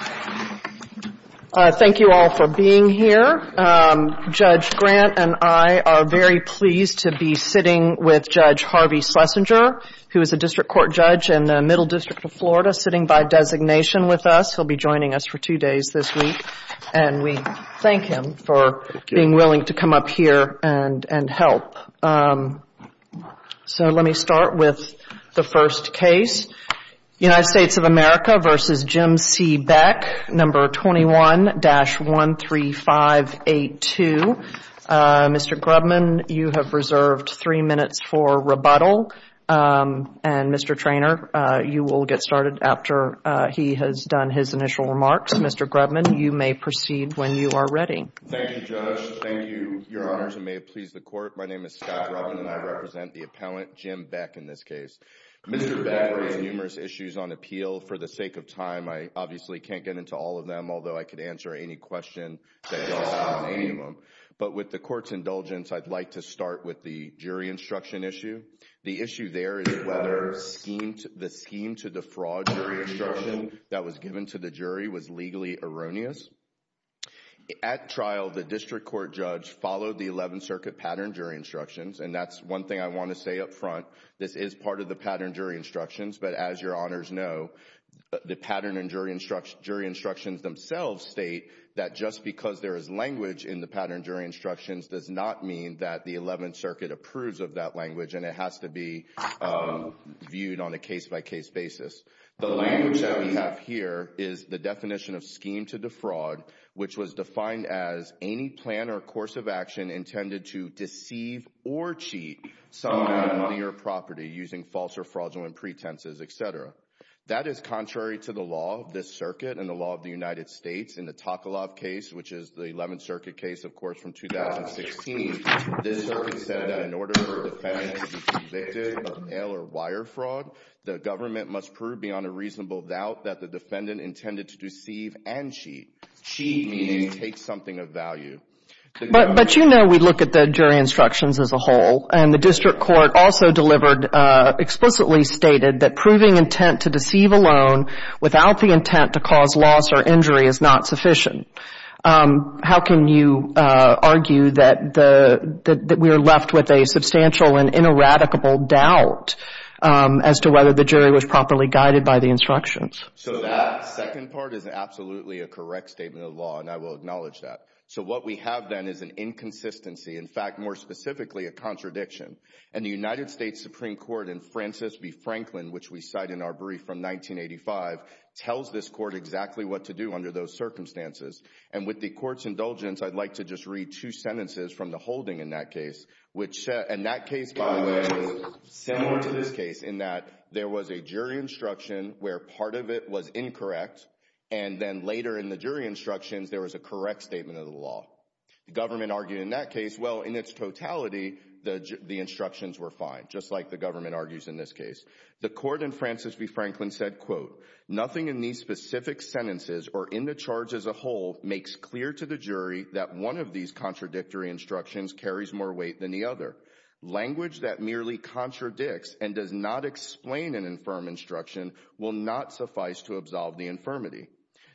Thank you all for being here. Judge Grant and I are very pleased to be sitting with Judge Harvey Schlesinger, who is a district court judge in the Middle District of Florida, sitting by designation with us. He'll be joining us for two days this week, and we thank him for being willing to come up here and help. So let me start with the first case, United States of America v. Jim C. Beck, No. 21-13582. Mr. Grubman, you have reserved three minutes for rebuttal, and Mr. Treanor, you will get started after he has done his initial remarks. Mr. Grubman, you may proceed when you are ready. Mr. Grubman Thank you, Judge. Thank you, Your Honors, and may it please the Court. My name is Scott Grubman, and I represent the appellant, Jim Beck, in this case. Mr. Beck raised numerous issues on appeal. For the sake of time, I obviously can't get into all of them, although I could answer any question that he asked on any of them. But with the Court's indulgence, I'd like to start with the jury instruction issue. The issue there is whether the scheme to defraud jury instruction that was given to the jury was legally erroneous. At trial, the district court judge followed the Eleventh Circuit pattern jury instructions, and that's one thing I want to say up front. This is part of the pattern jury instructions, but as Your Honors know, the pattern jury instructions themselves state that just because there is language in the pattern jury instructions does not mean that the Eleventh Circuit approves of that language, and it has to be viewed on a case-by-case basis. The language that we have here is the definition of scheme to defraud, which was defined as any plan or course of action intended to deceive or cheat someone on their property using false or fraudulent pretenses, etc. That is contrary to the law of this Circuit and the law of the United States. In the Takalov case, which is the Eleventh Circuit case, of course, from 2016, this Circuit said that in order for a defendant to be convicted of ill or wire fraud, the government must prove beyond a reasonable doubt that the defendant intended to deceive and cheat. Cheat means take something of value. But you know we look at the jury instructions as a whole, and the district court also delivered explicitly stated that proving intent to deceive alone without the intent to cause loss or that we are left with a substantial and ineradicable doubt as to whether the jury was properly guided by the instructions. So that second part is absolutely a correct statement of the law, and I will acknowledge that. So what we have then is an inconsistency, in fact, more specifically, a contradiction. And the United States Supreme Court in Francis v. Franklin, which we cite in our brief from 1985, tells this Court exactly what to do under those circumstances. And with the Court's holding in that case, which in that case, by the way, is similar to this case in that there was a jury instruction where part of it was incorrect, and then later in the jury instructions there was a correct statement of the law. Government argued in that case, well, in its totality, the instructions were fine, just like the government argues in this case. The Court in Francis v. Franklin said, quote, nothing in these specific sentences or in the charge as a whole makes clear to the jury that one of these contradictory instructions carries more weight than the other. Language that merely contradicts and does not explain an infirm instruction will not suffice to absolve the infirmity.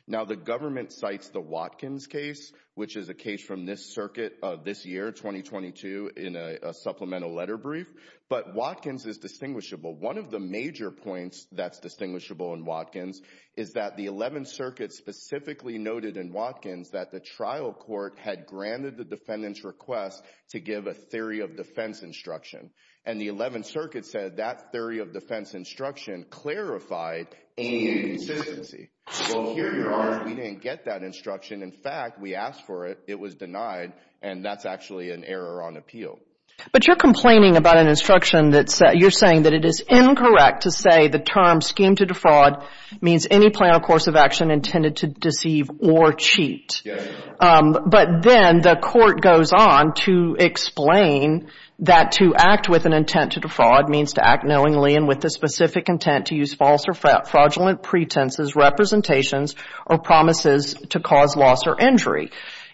Now the government cites the Watkins case, which is a case from this circuit of this year, 2022, in a supplemental letter brief. But Watkins is distinguishable. One of the major points that's distinguishable in Watkins is that the 11th Circuit specifically noted in Watkins that the trial court had granted the defendant's request to give a theory of defense instruction. And the 11th Circuit said that theory of defense instruction clarified any consistency. Well, here you are, we didn't get that instruction. In fact, we asked for it, it was denied, and that's actually an error on appeal. But you're complaining about an instruction that's, you're saying that it is incorrect to say the term scheme to defraud means any plan or course of action intended to deceive or cheat. But then the court goes on to explain that to act with an intent to defraud means to act knowingly and with the specific intent to use false or fraudulent pretenses, representations, or promises to cause loss or injury.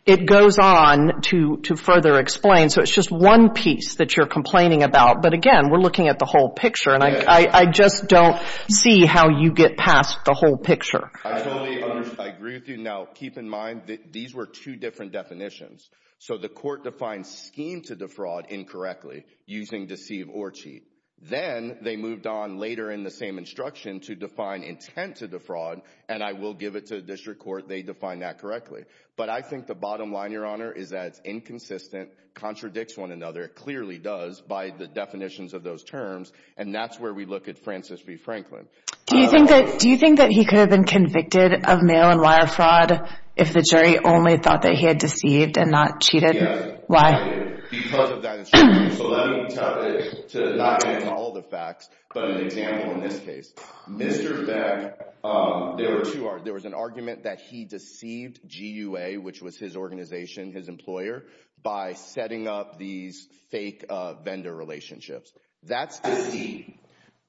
It goes on to further explain, so it's just one piece that you're complaining about. But again, we're looking at the whole picture and I just don't see how you get past the whole picture. I totally agree with you. Now, keep in mind that these were two different definitions. So the court defined scheme to defraud incorrectly using deceive or cheat. Then they moved on later in the same instruction to define intent to defraud, and I will give it to the district court, they defined that correctly. But I think the bottom line, Your Honor, is that it's inconsistent, contradicts one another, it clearly does by the definitions of those terms, and that's where we look at Francis B. Franklin. Do you think that he could have been convicted of mail and wire fraud if the jury only thought that he had deceived and not cheated? Why? Yes, because of that instruction. So that means to not get into all the facts, but an example in this case. Mr. Beck, there was an argument that he deceived GUA, which was his organization, his employer, by setting up these fake vendor relationships. That's deceit.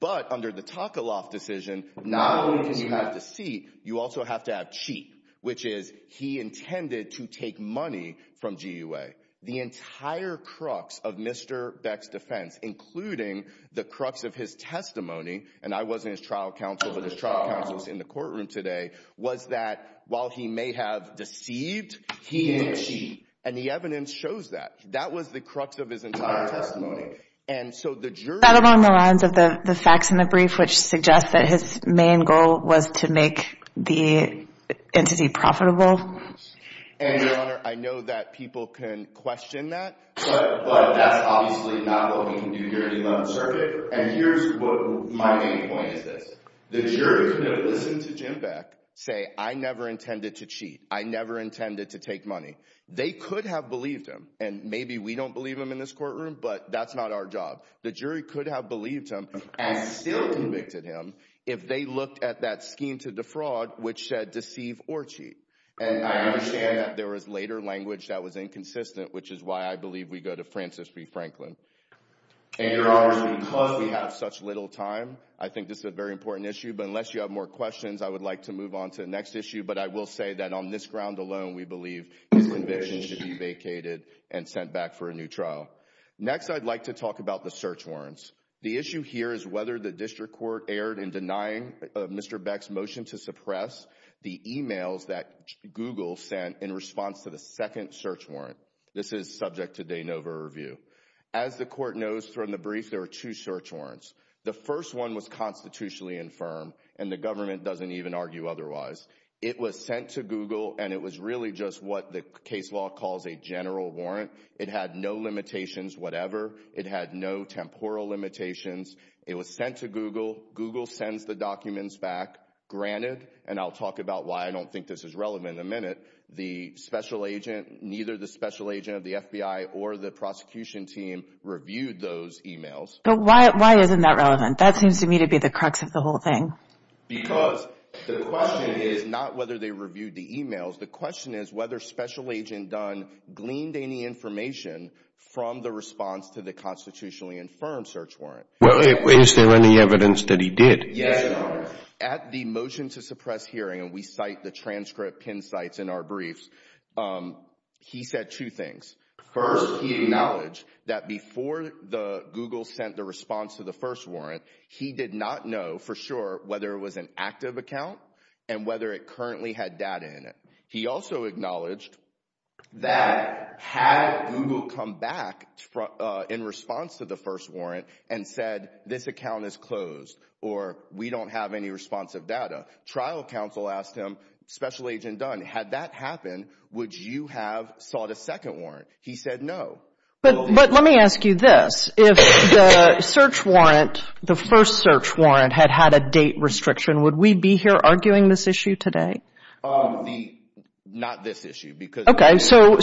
But under the Takaloff decision, not only can you have deceit, you also have to have cheat, which is he intended to take money from GUA. The entire crux of Mr. Beck's defense, including the crux of his testimony, and I wasn't his trial counsel, but his trial counsel was in the courtroom today, was that while he may have deceived, he didn't cheat. And the evidence shows that. That was the crux of his entire testimony. That along the lines of the facts in the brief, which suggests that his main goal was to make the entity profitable. And, Your Honor, I know that people can question that, but that's obviously not what we can do here in the 11th Circuit. And here's what my main point is this. The jurors that have listened to Jim Beck say, I never intended to cheat. I never intended to take money. They could have believed him. And maybe we don't believe him in this courtroom, but that's not our job. The jury could have believed him and still convicted him if they looked at that scheme to defraud, which said deceive or cheat. And I understand that there was later language that was inconsistent, which is why I believe we go to Francis B. Franklin. And, Your Honor, because we have such little time, I think this is a very important issue. But unless you have more questions, I would like to move on to the next issue. But I will say that on this ground alone, we believe his conviction should be vacated and sent back for a new trial. Next, I'd like to talk about the search warrants. The issue here is whether the district court erred in denying Mr. Beck's motion to suppress the emails that Google sent in response to the second search warrant. This is subject to de novo review. As the court knows from the brief, there were two search warrants. The first one was constitutionally confirmed, and the government doesn't even argue otherwise. It was sent to Google, and it was really just what the case law calls a general warrant. It had no limitations, whatever. It had no temporal limitations. It was sent to Google. Google sends the documents back. Granted, and I'll talk about why I don't think this is relevant in a minute, the special agent, neither the special agent of the FBI or the prosecution team reviewed those emails. But why isn't that relevant? That seems to me to be the crux of the whole thing. Because the question is not whether they reviewed the emails. The question is whether special agent Dunn gleaned any information from the response to the constitutionally confirmed search warrant. Well, is there any evidence that he did? Yes, Your Honor. At the motion to suppress hearing, and we cite the transcript, pin down the briefs, he said two things. First, he acknowledged that before Google sent the response to the first warrant, he did not know for sure whether it was an active account and whether it currently had data in it. He also acknowledged that had Google come back in response to the first warrant and said, this account is closed, or we don't have any responsive data. Trial counsel asked him, special agent Dunn, had that happened, would you have sought a second warrant? He said no. But let me ask you this. If the search warrant, the first search warrant, had had a date restriction, would we be here arguing this issue today? Not this issue. Okay. So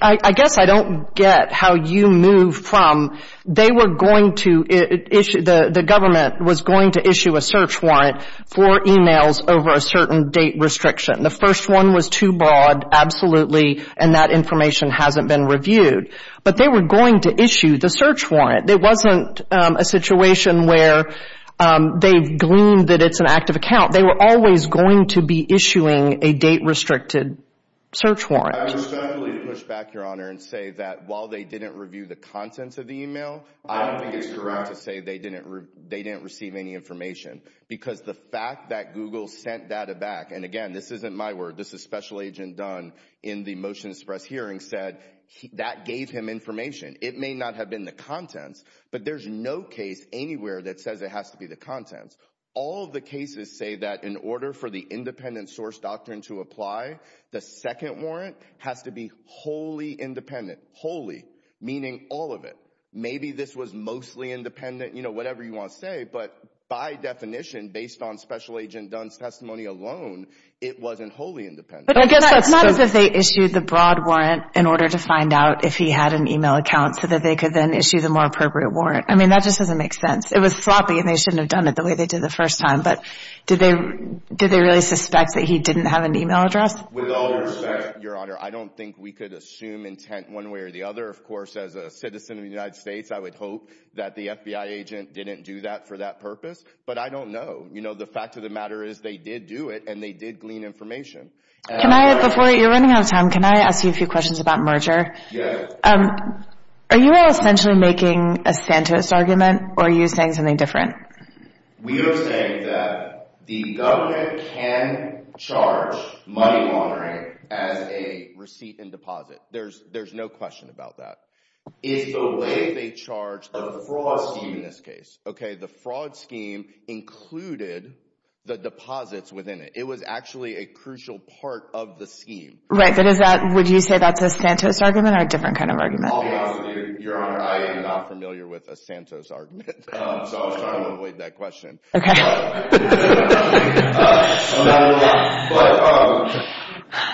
I guess I don't get how you move from they were going to issue, the government was going to issue a search warrant for emails over a certain date restriction. The first one was too broad, absolutely, and that information hasn't been reviewed. But they were going to issue the search warrant. It wasn't a situation where they gleaned that it's an active account. They were always going to be issuing a date-restricted search warrant. I respectfully push back, Your Honor, and say that while they didn't review the contents of the email, I don't think it's correct to say they didn't receive any information. Because the fact that Google sent data back, and again, this isn't my word, this is special agent Dunn in the motion to suppress hearing, said that gave him information. It may not have been the contents, but there's no case anywhere that says it has to be the contents. All of the cases say that in order for the independent source doctrine to apply, the maybe this was mostly independent, you know, whatever you want to say, but by definition, based on special agent Dunn's testimony alone, it wasn't wholly independent. But I guess that's not as if they issued the broad warrant in order to find out if he had an email account so that they could then issue the more appropriate warrant. I mean, that just doesn't make sense. It was sloppy, and they shouldn't have done it the way they did the first time. But did they really suspect that he didn't have an email address? With all respect, Your Honor, I don't think we could assume intent one way or the other. Of course, as a citizen of the United States, I would hope that the FBI agent didn't do that for that purpose. But I don't know. You know, the fact of the matter is they did do it, and they did glean information. Before you're running out of time, can I ask you a few questions about merger? Yes. Are you essentially making a Santos argument, or are you saying something different? We are saying that the government can charge money laundering as a receipt and deposit. There's no question about that. It's the way they charge the fraud scheme in this case. The fraud scheme included the deposits within it. It was actually a crucial part of the scheme. Would you say that's a Santos argument or a different kind of argument? I'll be honest with you, Your Honor, I am not familiar with a Santos argument. So I was trying to avoid that question. Okay.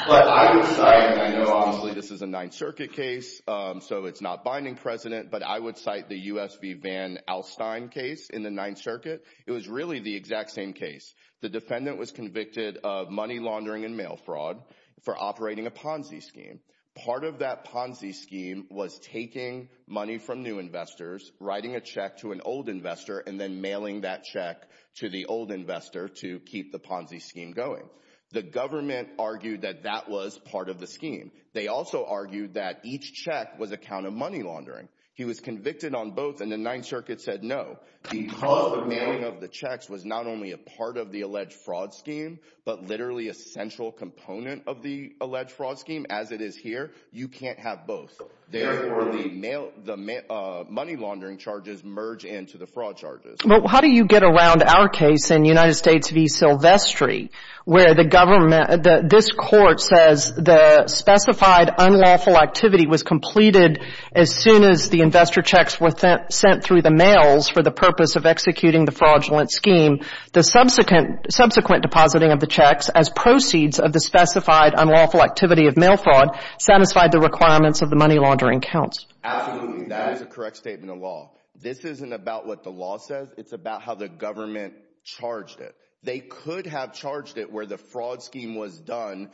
But I would cite, and I know obviously this is a Ninth Circuit case, so it's not binding precedent, but I would cite the US v. Van Alstyne case in the Ninth Circuit. It was really the exact same case. The defendant was convicted of money laundering and mail fraud for operating a Ponzi scheme. Part of that Ponzi scheme was taking money from new investors, writing a check to an old investor, and then mailing that check to the old investor to keep the Ponzi scheme going. The government argued that that was part of the scheme. They also argued that each check was a count of money laundering. He was convicted on both, and the Ninth Circuit said no. Because the mailing of the checks was not only a part of the alleged fraud scheme, but literally a central component of the alleged fraud scheme as it is here, you can't have both. Therefore, the money laundering charges merge into the fraud charges. Well, how do you get around our case in United States v. Silvestri, where this court says the specified unlawful activity was completed as soon as the investor checks were sent through the mails for the purpose of executing the fraudulent scheme. The subsequent depositing of the checks as proceeds of the specified unlawful activity of mail fraud satisfied the requirements of the money laundering counts. Absolutely. That is a correct statement of law. This isn't about what the law says. It's about how the government charged it. They could have charged it where the fraud scheme was done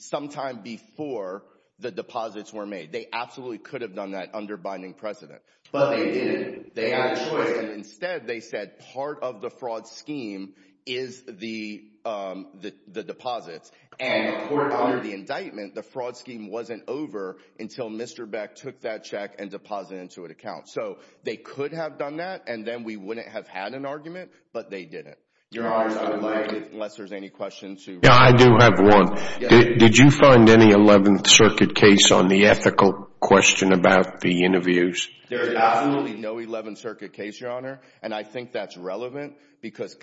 sometime before the deposits were made. They absolutely could have done that under binding precedent. But they didn't. They had a choice. Instead, they said part of the fraud scheme is the deposits. And under the indictment, the fraud scheme wasn't over until Mr. Beck took that check and deposited it into an account. So they could have done that, and then we wouldn't have had an argument. But they didn't, unless there's any questions. I do have one. Did you find any 11th Circuit case on the ethical question about the interviews? And I think that's relevant because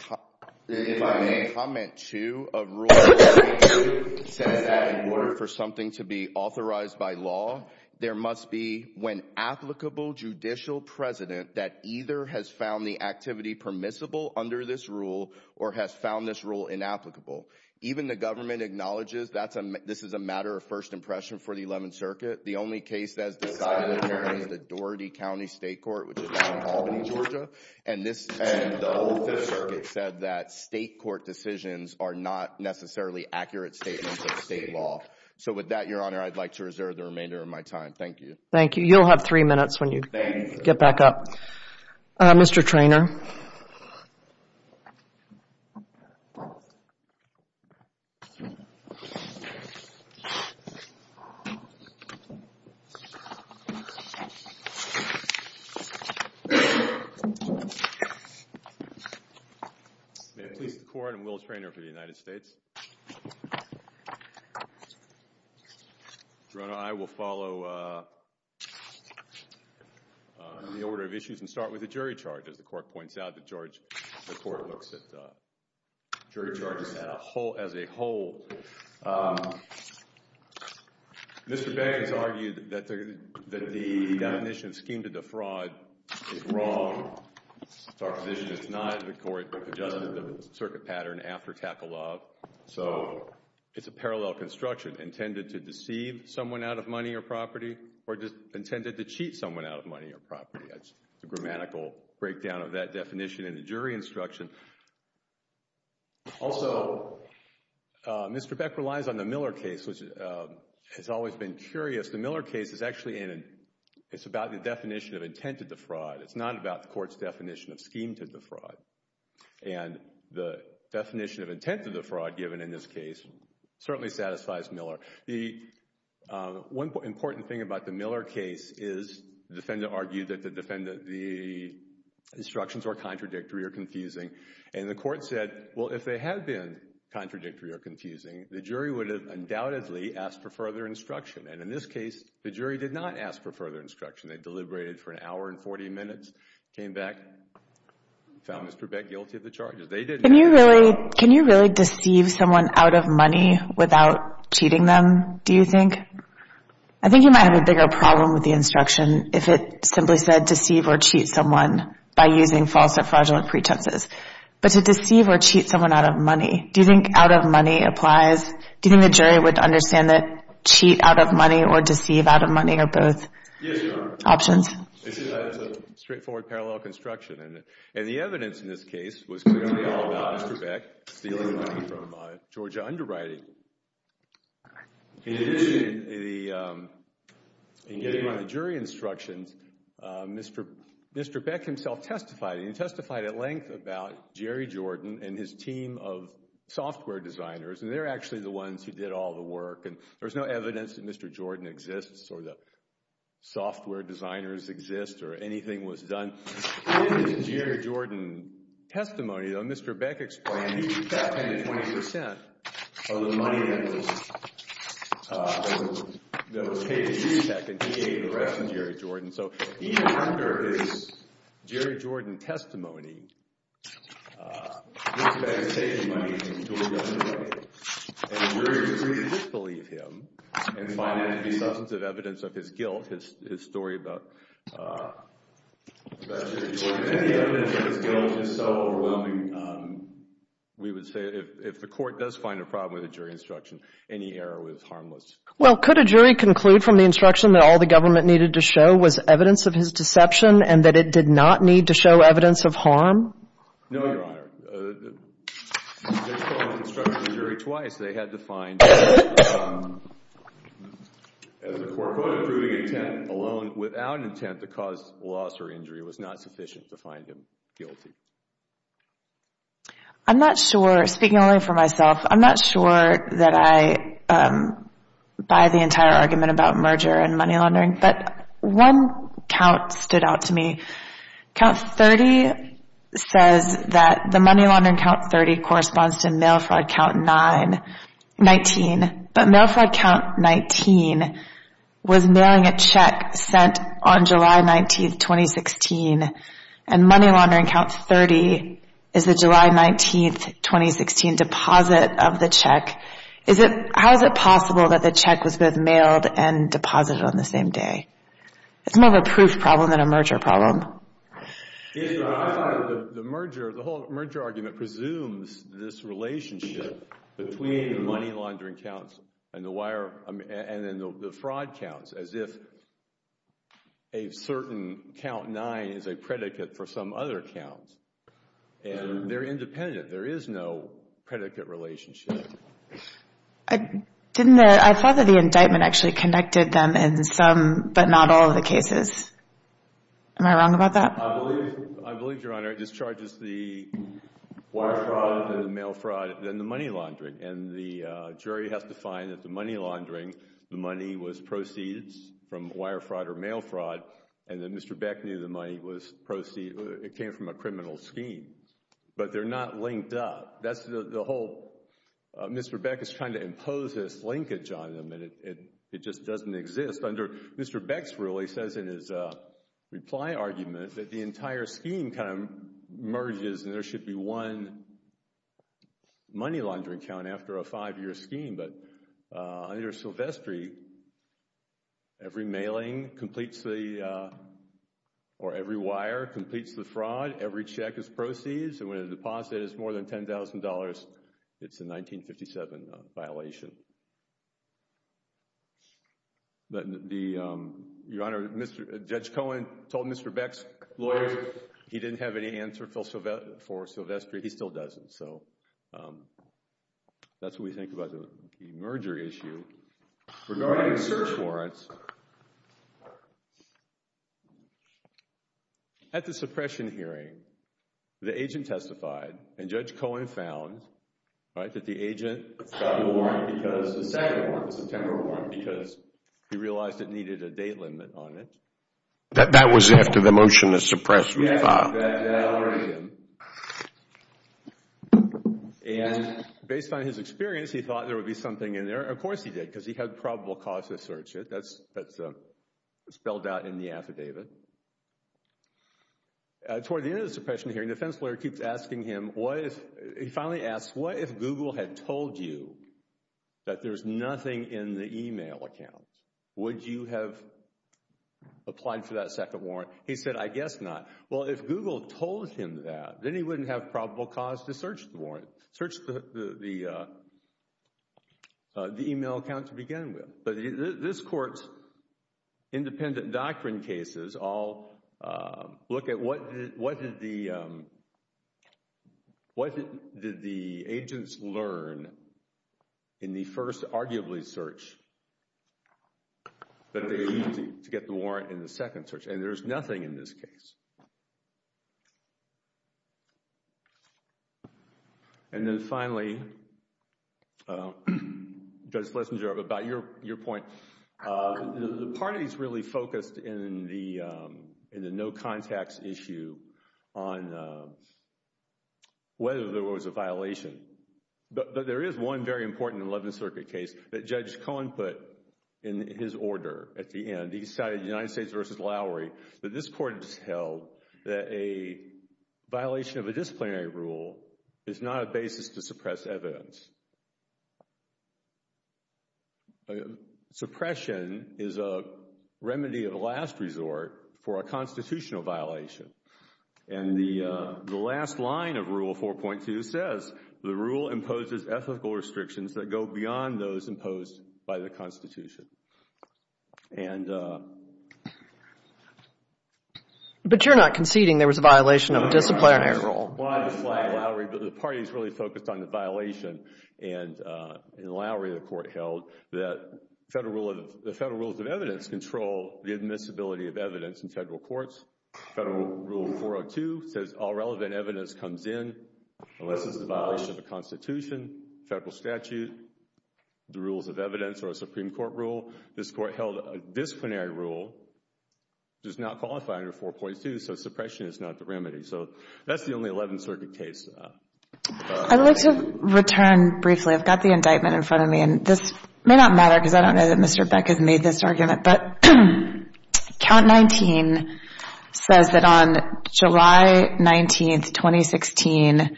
if I may comment, too, a rule says that in order for something to be authorized by law, there must be when applicable judicial precedent that either has found the activity permissible under this rule or has found this rule inapplicable. Even the government acknowledges this is a matter of first impression for the 11th Circuit. The only case that's decided here is the Doherty County State Court, which is down in Albany, Georgia. And the 11th Circuit said that state court decisions are not necessarily accurate statements of state law. So with that, Your Honor, I'd like to reserve the remainder of my time. Thank you. Thank you. You'll have three minutes when you get back up. Mr. Treanor. May it please the Court, I'm Will Treanor for the United States. Your Honor, I will follow the order of issues and start with the jury charge. As the Court points out, the court looks at jury charges as a whole. Mr. Banks argued that the definition of scheme to defraud is wrong. Our position is it's not. The court adjusted the circuit pattern after tackle-off. So it's a parallel construction intended to deceive someone out of money or property or intended to cheat someone out of money or property. That's a grammatical breakdown of that definition in the jury instruction. Also, Mr. Beck relies on the Miller case, which has always been curious. The Miller case is actually about the definition of intent to defraud. It's not about the court's definition of scheme to defraud. And the definition of intent to defraud given in this case certainly satisfies Miller. The one important thing about the Miller case is the defendant argued that the instructions were contradictory or confusing. And the court said, well, if they had been contradictory or confusing, the jury would have undoubtedly asked for further instruction. And in this case, the jury did not ask for further instruction. They deliberated for an hour and 40 minutes, came back, found Mr. Beck guilty of the charges. Can you really deceive someone out of money without cheating them, do you think? I think you might have a bigger problem with the instruction if it simply said deceive or cheat someone by using false or fraudulent pretenses. But to deceive or cheat someone out of money, do you think out of money applies? Do you think the jury would understand that cheat out of money or deceive out of money are both? Yes, Your Honor. Options. It's a straightforward parallel construction. And the evidence in this case was clearly all about Mr. Beck stealing money from Georgia Underwriting. In addition, in getting around the jury instructions, Mr. Beck himself testified. And he testified at length about Jerry Jordan and his team of software designers. And they're actually the ones who did all the work. And there's no evidence that Mr. Jordan exists or the software designers exist or anything was done. In his Jerry Jordan testimony, though, Mr. Beck explained he kept 10 to 20 percent of the money that was paid to CTEC, and he gave the rest to Jerry Jordan. So even under his Jerry Jordan testimony, Mr. Beck is taking money from Georgia Underwriting. And the jury could really disbelieve him and find it to be substantive evidence of his guilt, his story about Jerry Jordan. And the evidence of his guilt is so overwhelming, we would say if the court does find a problem with a jury instruction, any error was harmless. Well, could a jury conclude from the instruction that all the government needed to show was evidence of his deception and that it did not need to show evidence of harm? No, Your Honor. If they're told to instruct a jury twice, they had to find, as the court put it, proving intent alone without intent to cause loss or injury was not sufficient to find him guilty. I'm not sure, speaking only for myself, I'm not sure that I buy the entire argument about merger and money laundering. But one count stood out to me. Count 30 says that the money laundering count 30 corresponds to mail fraud count 19. But mail fraud count 19 was mailing a check sent on July 19, 2016, and money laundering count 30 is the July 19, 2016 deposit of the check. How is it possible that the check was both mailed and deposited on the same day? It's more of a proof problem than a merger problem. Yes, Your Honor. I thought that the merger, the whole merger argument presumes this relationship between the money laundering counts and the wire, and then the fraud counts as if a certain count nine is a predicate for some other count. And they're independent. There is no predicate relationship. I thought that the indictment actually connected them in some but not all of the cases. Am I wrong about that? I believe, Your Honor, it discharges the wire fraud, the mail fraud, and then the money laundering. And the jury has to find that the money laundering, the money was proceeds from wire fraud or mail fraud, and that Mr. Beck knew the money came from a criminal scheme. But they're not linked up. That's the whole—Mr. Beck is trying to impose this linkage on them, and it just doesn't exist. Under Mr. Beck's rule, he says in his reply argument that the entire scheme kind of merges, and there should be one money laundering count after a five-year scheme. But under Silvestri, every mailing completes the—or every wire completes the fraud, every check is proceeds, and when the deposit is more than $10,000, it's a 1957 violation. Your Honor, Judge Cohen told Mr. Beck's lawyers he didn't have any answer for Silvestri. He still doesn't. So that's what we think about the merger issue. Regarding search warrants, at the suppression hearing, the agent testified, and Judge Cohen found, right, that the agent got the warrant because—the second warrant, the September warrant, because he realized it needed a date limit on it. That was after the motion to suppress was filed. Yes, that alerted him, and based on his experience, he thought there would be something in there. Of course he did, because he had probable cause to search it. That's spelled out in the affidavit. Toward the end of the suppression hearing, the defense lawyer keeps asking him, he finally asks, what if Google had told you that there's nothing in the email account? Would you have applied for that second warrant? He said, I guess not. Well, if Google told him that, then he wouldn't have probable cause to search the warrant, the email account to begin with. But this Court's independent doctrine cases all look at what did the agents learn in the first, arguably, search that they used to get the warrant in the second search, and there's nothing in this case. And then finally, Judge Schlesinger, about your point, the parties really focused in the no contacts issue on whether there was a violation. But there is one very important 11th Circuit case that Judge Cohen put in his order at the end. He decided, United States v. Lowry, that this Court has held that a violation of a disciplinary rule is not a basis to suppress evidence. Suppression is a remedy of a last resort for a constitutional violation. And the last line of Rule 4.2 says, the rule imposes ethical restrictions that go beyond those imposed by the Constitution. But you're not conceding there was a violation of a disciplinary rule. Well, I just like Lowry, but the parties really focused on the violation in Lowry the Court held that the federal rules of evidence control the admissibility of evidence in federal courts. Federal Rule 4.2 says all relevant evidence comes in unless it's a violation of a Constitution, federal statute, the rules of evidence, or a Supreme Court rule. This Court held a disciplinary rule does not qualify under 4.2, so suppression is not the remedy. So that's the only 11th Circuit case. I'd like to return briefly. I've got the indictment in front of me, and this may not matter because I don't know that Mr. Beck has made this argument. But Count 19 says that on July 19, 2016,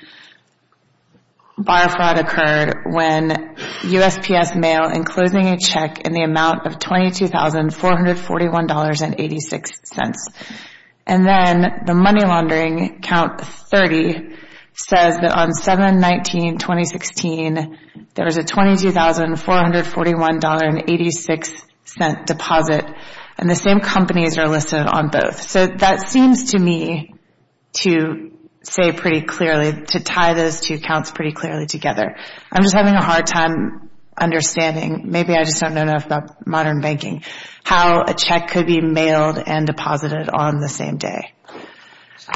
bar fraud occurred when USPS mail enclosing a check in the amount of $22,441.86. And then the money laundering, Count 30, says that on July 19, 2016, there was a $22,441.86 deposit, and the same companies are listed on both. So that seems to me to say pretty clearly, to tie those two counts pretty clearly together. I'm just having a hard time understanding, maybe I just don't know enough about modern banking, how a check could be mailed and deposited on the same day. I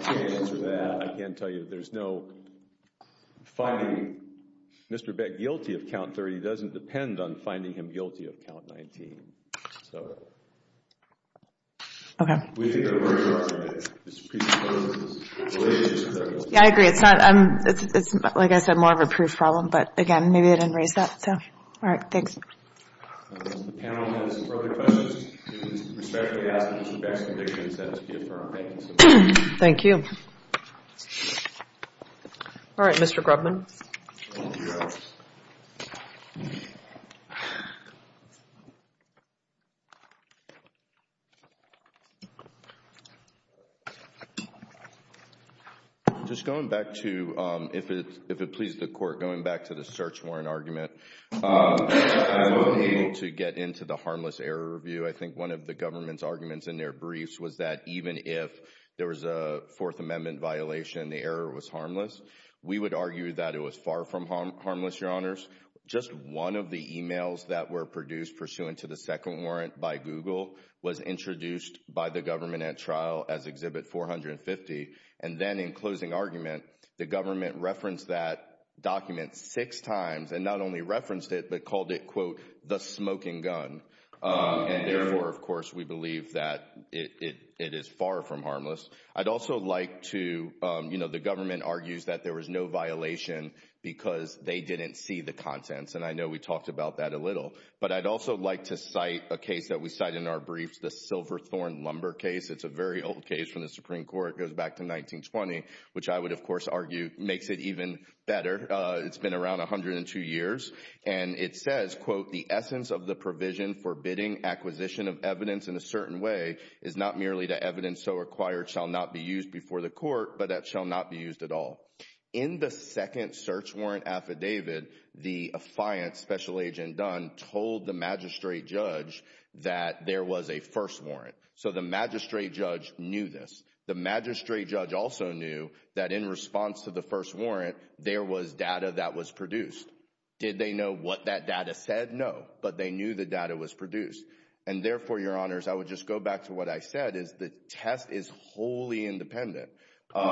can't answer that. I can tell you there's no finding Mr. Beck guilty of Count 30 doesn't depend on finding him guilty of Count 19. Okay. Yeah, I agree. It's not, like I said, more of a proof problem. But again, maybe I didn't raise that. So, all right, thanks. If the panel has further questions, you can respectfully ask Mr. Beck's conviction and sentence to be affirmed. Thank you. Thank you. All right, Mr. Grubman. Yes. Just going back to, if it pleases the Court, going back to the search warrant argument, I wasn't able to get into the harmless error review. I think one of the government's arguments in their briefs was that even if there was a Fourth Amendment violation, the error was harmless. We would argue that it was far from harmless, Your Honors. Just one of the emails that were produced pursuant to the second warrant by Google was introduced by the government at trial as Exhibit 450. And then in closing argument, the government referenced that document six times, and not only referenced it but called it, quote, the smoking gun. And therefore, of course, we believe that it is far from harmless. I'd also like to, you know, the government argues that there was no violation because they didn't see the contents. And I know we talked about that a little. But I'd also like to cite a case that we cite in our briefs, the Silverthorn Lumber case. It's a very old case from the Supreme Court. It goes back to 1920, which I would, of course, argue makes it even better. It's been around 102 years. And it says, quote, the essence of the provision forbidding acquisition of evidence in a certain way is not merely the evidence so required shall not be used before the court, but that shall not be used at all. In the second search warrant affidavit, the affiant, Special Agent Dunn, told the magistrate judge that there was a first warrant. So the magistrate judge knew this. The magistrate judge also knew that in response to the first warrant, there was data that was produced. Did they know what that data said? No. But they knew the data was produced. And therefore, Your Honors, I would just go back to what I said, is the test is wholly independent. You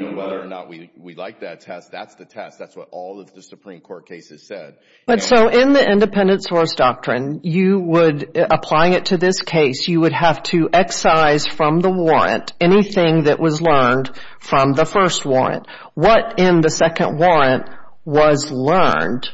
know, whether or not we like that test, that's the test. That's what all of the Supreme Court cases said. But so in the independent source doctrine, you would, applying it to this case, you would have to excise from the warrant anything that was learned from the first warrant. What in the second warrant was learned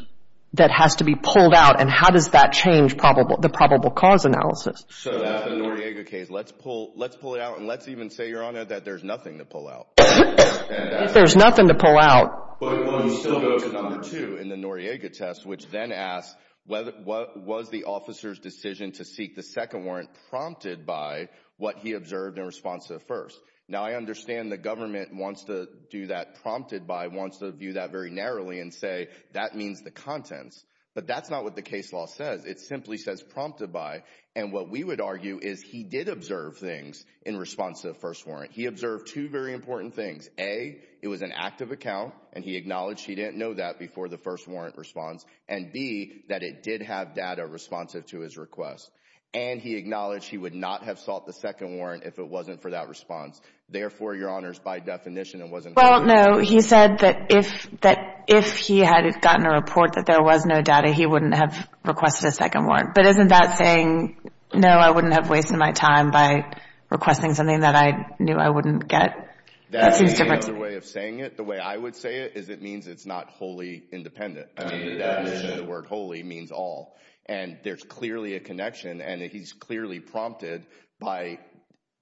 that has to be pulled out, and how does that change the probable cause analysis? So that's the Noriega case. Let's pull it out, and let's even say, Your Honor, that there's nothing to pull out. If there's nothing to pull out. But we'll still go to number two in the Noriega test, which then asks, was the officer's decision to seek the second warrant prompted by what he observed in response to the first? Now, I understand the government wants to do that prompted by, wants to view that very narrowly and say that means the contents. But that's not what the case law says. It simply says prompted by. And what we would argue is he did observe things in response to the first warrant. He observed two very important things. A, it was an active account, and he acknowledged he didn't know that before the first warrant response. And B, that it did have data responsive to his request. And he acknowledged he would not have sought the second warrant if it wasn't for that response. Therefore, Your Honors, by definition, it wasn't. Well, no. He said that if he had gotten a report that there was no data, he wouldn't have requested a second warrant. But isn't that saying, no, I wouldn't have wasted my time by requesting something that I knew I wouldn't get? That's another way of saying it. The way I would say it is it means it's not wholly independent. The word wholly means all. And there's clearly a connection, and he's clearly prompted by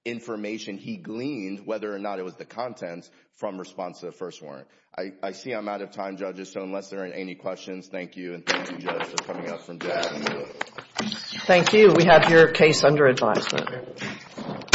information he gleaned, whether or not it was the contents, from response to the first warrant. I see I'm out of time, Judges, so unless there are any questions, thank you. And thank you, Judge, for coming up from there. Thank you. We have your case under advisement. Thank you. Thank you. Thank you.